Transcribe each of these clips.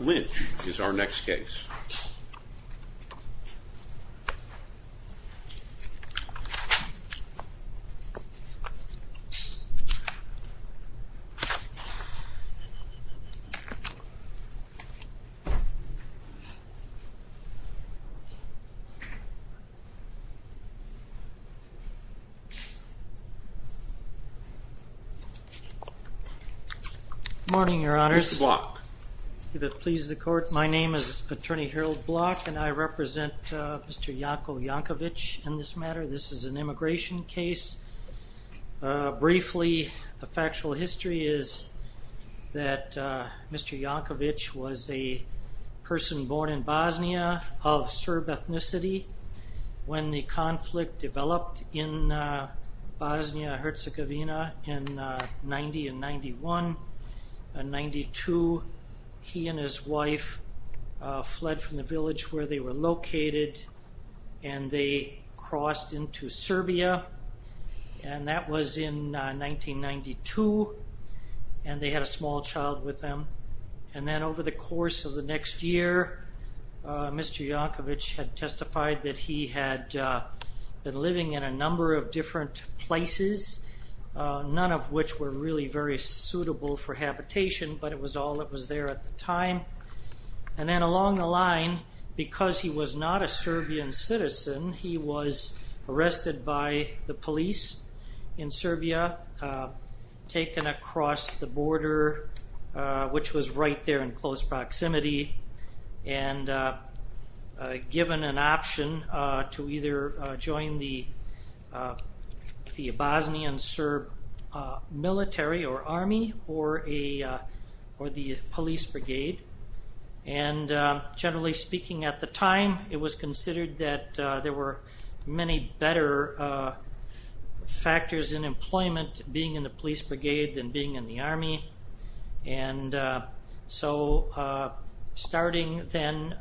Lynch is our next case. Good morning, Your Honors. Please the court. My name is Attorney Harold Block and I represent Mr. Janko Jankovic in this matter. This is an immigration case. Briefly, a factual history is that Mr. Jankovic was a person born in Bosnia of Serb ethnicity when the conflict developed in Bosnia Herzegovina in 90 and 91. In 92, he and his wife fled from the village where they were located and they crossed into Serbia and that was in 1992 and they had a small child with them and then over the course of the next year, Mr. Jankovic had testified that he had been living in a number of different places, none of which were really very suitable for habitation, but it was all that was there at the time and then along the line, because he was not a Serbian citizen, he was arrested by the police in close proximity and given an option to either join the Bosnian Serb military or army or the police brigade and generally speaking at the time, it was considered that there were many better factors in employment being in the police brigade than being in the army and so starting then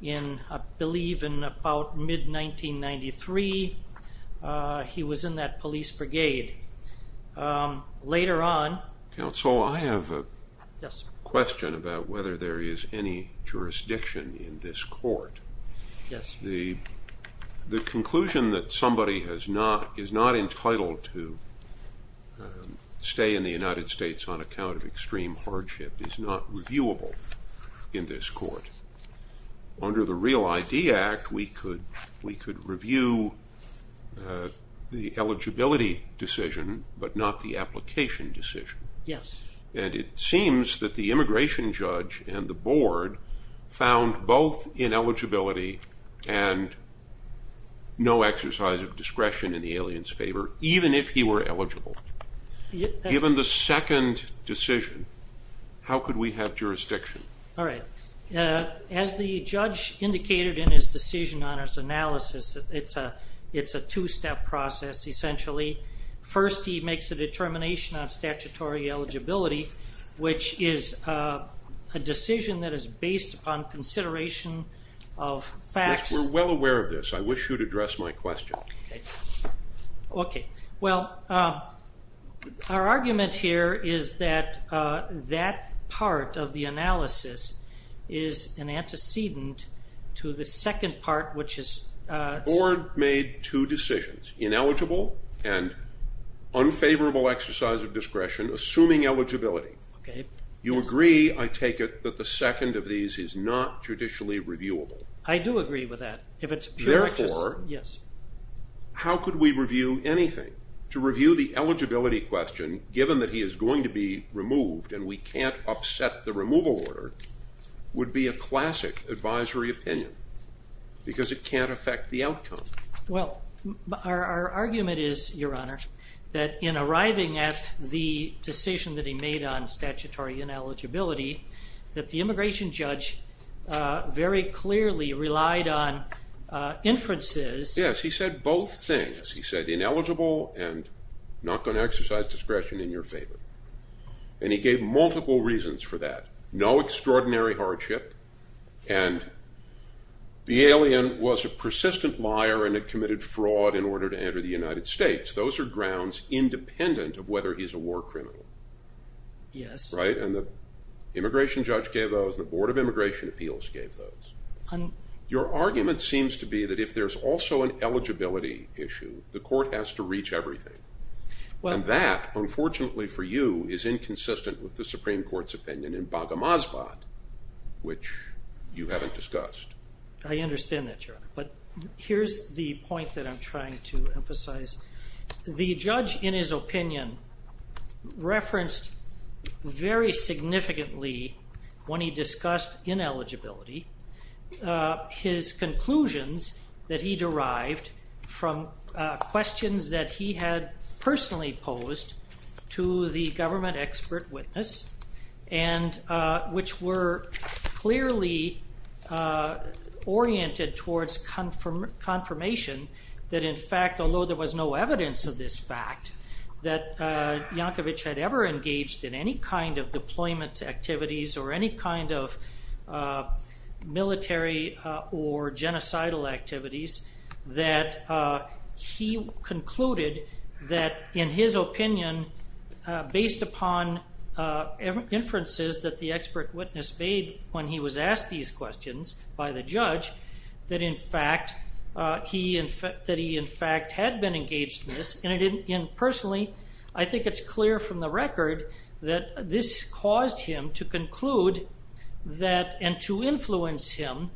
in, I believe, in about mid 1993, he was in that police brigade. Later on... Counsel, I have a question about whether there is any jurisdiction in this court. The conclusion that somebody is not entitled to stay in the United States on account of extreme hardship is not reviewable in this court. Under the Real ID Act, we could review the eligibility decision but not the application decision and it seems that the immigration judge and the board found both ineligibility and no exercise of discretion in the alien's favor, even if he were eligible. Given the second decision, how could we have jurisdiction? All right, as the judge indicated in his decision on his analysis, it's a two-step process essentially. First, he makes a decision based upon consideration of facts. Yes, we're well aware of this. I wish you'd address my question. Okay, well our argument here is that that part of the analysis is an antecedent to the second part which is... The board made two decisions, ineligible and unfavorable exercise of is not judicially reviewable. I do agree with that. Therefore, how could we review anything? To review the eligibility question, given that he is going to be removed and we can't upset the removal order, would be a classic advisory opinion because it can't affect the outcome. Well, our argument is, Your Honor, that in arriving at the decision that he made on statutory ineligibility, that the immigration judge very clearly relied on inferences. Yes, he said both things. He said ineligible and not going to exercise discretion in your favor and he gave multiple reasons for that. No extraordinary hardship and the alien was a persistent liar and had committed fraud in order to enter the United States. Those are grounds independent of whether he's a war criminal. Yes. Right, and the immigration judge gave those, the Board of Immigration Appeals gave those. Your argument seems to be that if there's also an eligibility issue, the court has to reach everything. Well, that unfortunately for you is inconsistent with the Supreme Court's opinion in Baghamasvat, which you haven't discussed. I understand that, Your Honor, but here's the point that I'm trying to emphasize. The judge, in his opinion, referenced very significantly, when he discussed ineligibility, his conclusions that he derived from questions that he had personally posed to the government expert witness and which were clearly oriented towards confirmation that in fact, although there was no evidence of this fact, that Yankovic had ever engaged in any kind of deployment activities or any kind of military or genocidal activities, that he concluded that in his opinion, based upon inferences that the expert witness made when he was asked these questions by the judge, that in fact, he in fact, that he in fact had been engaged in this and I didn't, and personally, I think it's clear from the record that this caused him to conclude that and to influence him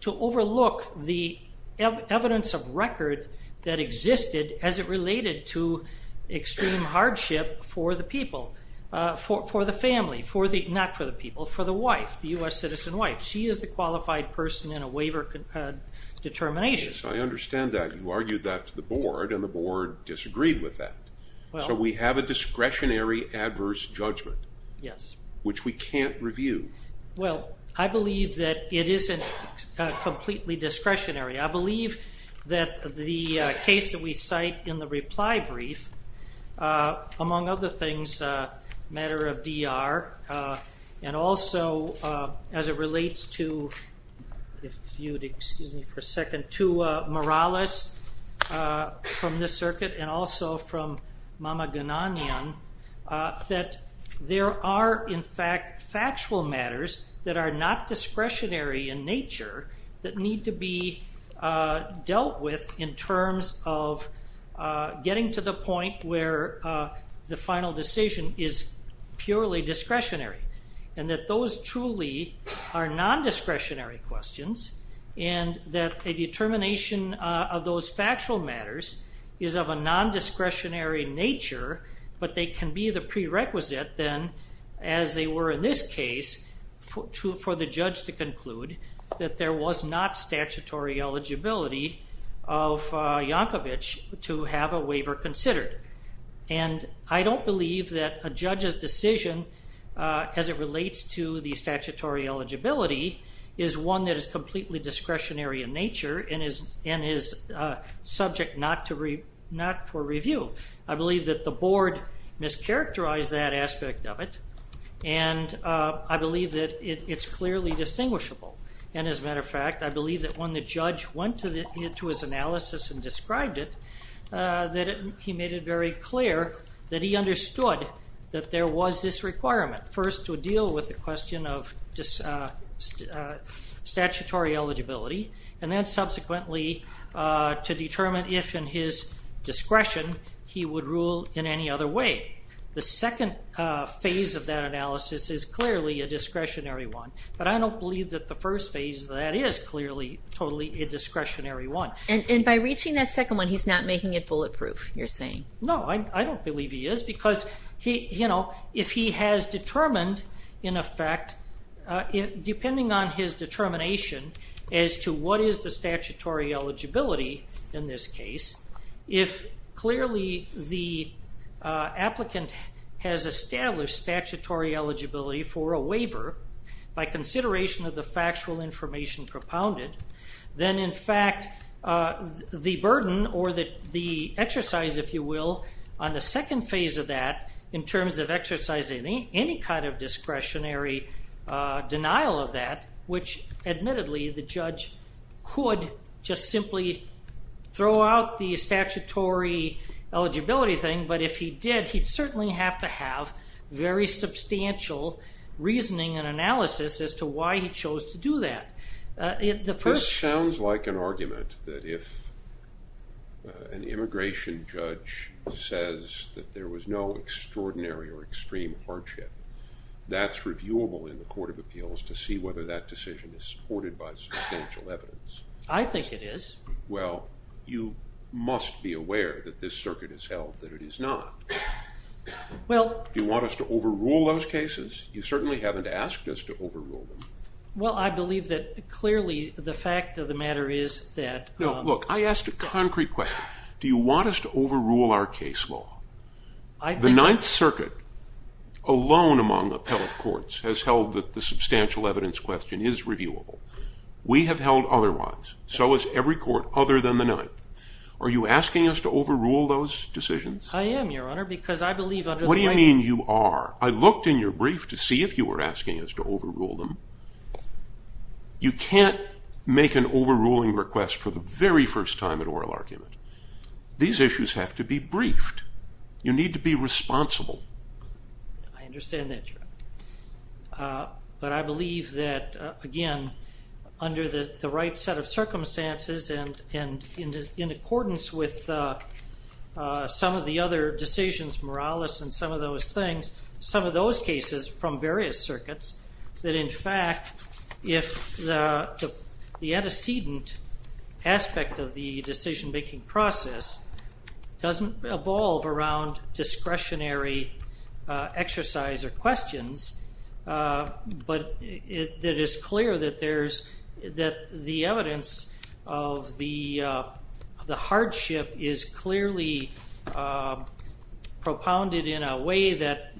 to overlook the evidence of record that existed as it related to extreme hardship for the people, for the family, for the, not for the people, for the U.S. citizen wife. She is the qualified person in a waiver determination. I understand that. You argued that to the board and the board disagreed with that. So we have a discretionary adverse judgment. Yes. Which we can't review. Well, I believe that it isn't completely discretionary. I believe that the case that we cite in the reply brief, among other things, a matter of DR, and also as it relates to, if you'd excuse me for a second, to Morales from the circuit and also from Mama Gunanian, that there are in fact factual matters that are not getting to the point where the final decision is purely discretionary and that those truly are non-discretionary questions and that a determination of those factual matters is of a non-discretionary nature, but they can be the prerequisite then, as they were in this case, for the judge to conclude that there was not statutory eligibility of Yankovic to have a waiver considered. And I don't believe that a judge's decision, as it relates to the statutory eligibility, is one that is completely discretionary in nature and is subject not for review. I believe that the board mischaracterized that aspect of it and I believe that it's clearly distinguishable. And as a matter of fact, I believe that when the judge went to his analysis and described it, that he made it very clear that he understood that there was this requirement, first to deal with the question of statutory eligibility and then subsequently to determine if in his discretion he would rule in any other way. The second phase of that analysis is clearly a discretionary one, but I don't believe that the first phase of that is clearly totally a discretionary one. And by reaching that second one, he's not making it bulletproof, you're saying? No, I don't believe he is because if he has determined, in effect, depending on his determination as to what is the statutory eligibility in this case, if clearly the applicant has established statutory eligibility for a waiver by consideration of the factual information propounded, then in fact the burden or the exercise, if you will, on the second phase of that in terms of exercising any kind of discretionary denial of that, which admittedly the judge could just simply throw out the very substantial reasoning and analysis as to why he chose to do that. This sounds like an argument that if an immigration judge says that there was no extraordinary or extreme hardship, that's reviewable in the Court of Appeals to see whether that decision is supported by substantial evidence. I think it is. Well, you must be aware that this circuit has held that it is not. Well... Do you want us to overrule those cases? You certainly haven't asked us to overrule them. Well, I believe that clearly the fact of the matter is that... No, look, I asked a concrete question. Do you want us to overrule our case law? I think... The Ninth Circuit alone among appellate courts has held that the substantial evidence question is reviewable. We have held otherwise. So has every court other than the Ninth. Are you asking us to overrule those decisions? I am, Your Honor, because I believe... What do you mean you are? I looked in your brief to see if you were asking us to overrule them. You can't make an overruling request for the very first time at oral argument. These issues have to be briefed. You need to be responsible. I understand that, Your Honor. But I believe that, again, under the right set of circumstances and in accordance with some of the other decisions, Morales and some of those things, some of those cases from various circuits, that in fact if the antecedent aspect of the decision making process doesn't evolve around discretionary exercise or questions, but it is clear that there's... That the evidence of the hardship is clearly propounded in a way that,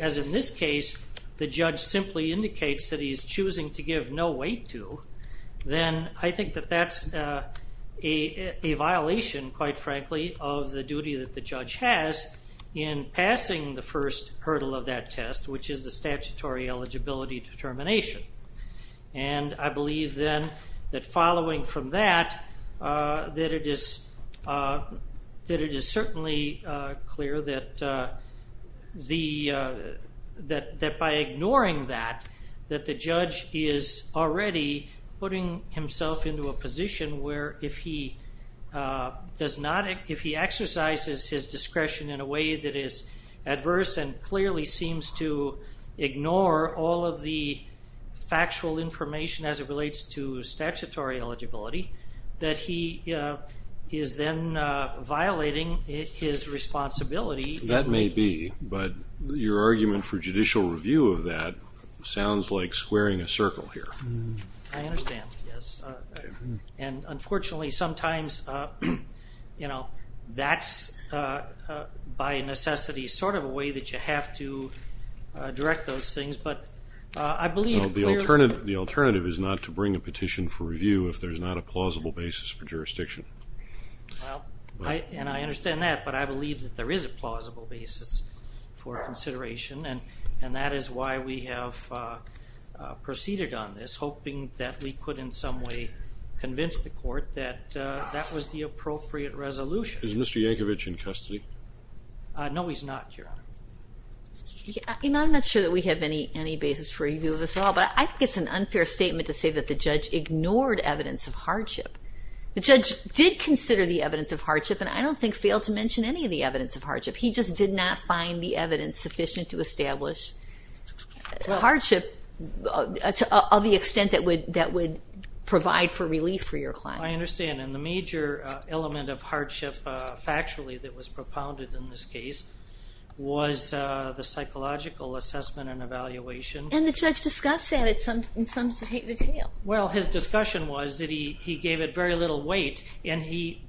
as in this case, the judge simply indicates that he's choosing to give no weight to, then I think that that's a violation, quite frankly, of the duty that the judge has in passing the first hurdle of that test, which is the statutory eligibility determination. I believe then that following from that, that it is certainly clear that by ignoring that, that the judge is already putting himself into a position where if he exercises his right to ignore all of the factual information as it relates to statutory eligibility, that he is then violating his responsibility. That may be, but your argument for judicial review of that sounds like squaring a circle here. I understand, yes. And unfortunately sometimes, you know, that's by necessity sort of a way that you have to direct those things, but I believe the alternative is not to bring a petition for review if there's not a plausible basis for jurisdiction. And I understand that, but I believe that there is a plausible basis for consideration and that is why we have proceeded on this, hoping that we could in some way convince the court that that was the No, he's not, Your Honor. I'm not sure that we have any basis for review of this at all, but I think it's an unfair statement to say that the judge ignored evidence of hardship. The judge did consider the evidence of hardship and I don't think failed to mention any of the evidence of hardship. He just did not find the evidence sufficient to establish the hardship of the extent that would provide for relief for your client. I understand, and the case was the psychological assessment and evaluation. And the judge discussed that in some detail. Well, his discussion was that he gave it very little weight and he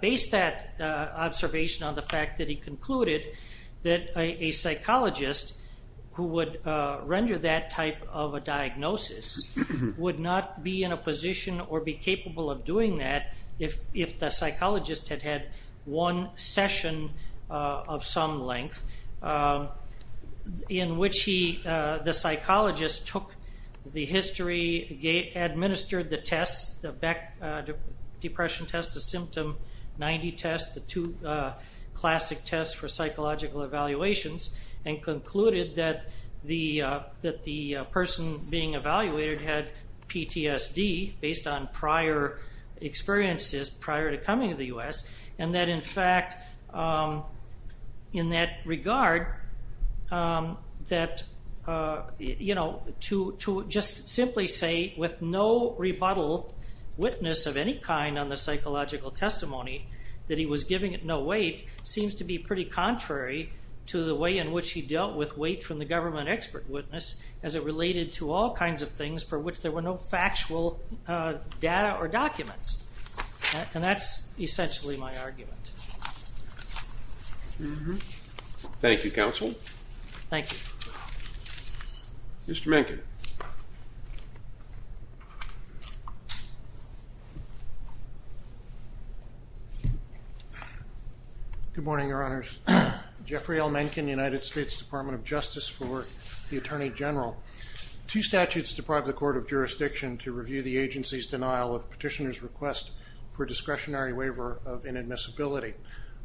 based that observation on the fact that he concluded that a psychologist who would render that type of a diagnosis would not be in a position or be capable of doing that if the psychologist had had one session of some length in which the psychologist took the history, administered the tests, the depression test, the symptom 90 test, the two classic tests for psychological evaluations and concluded that the person being evaluated had PTSD based on prior experiences prior to coming to the court. In that regard, to just simply say with no rebuttal witness of any kind on the psychological testimony that he was giving it no weight seems to be pretty contrary to the way in which he dealt with weight from the government expert witness as it related to all kinds of things for which there were no essentially my argument. Thank you counsel. Thank you. Mr. Menken. Good morning, Your Honors. Jeffrey L. Menken, United States Department of Justice for the Attorney General. Two statutes deprive the court of jurisdiction to review the agency's denial of petitioner's request for inadmissibility.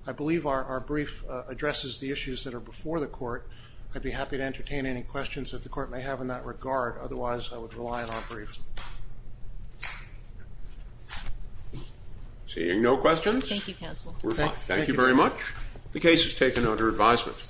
I believe our brief addresses the issues that are before the court. I'd be happy to entertain any questions that the court may have in that regard. Otherwise I would rely on our briefs. Seeing no questions. Thank you counsel. Thank you very much. The case is taken under advisement.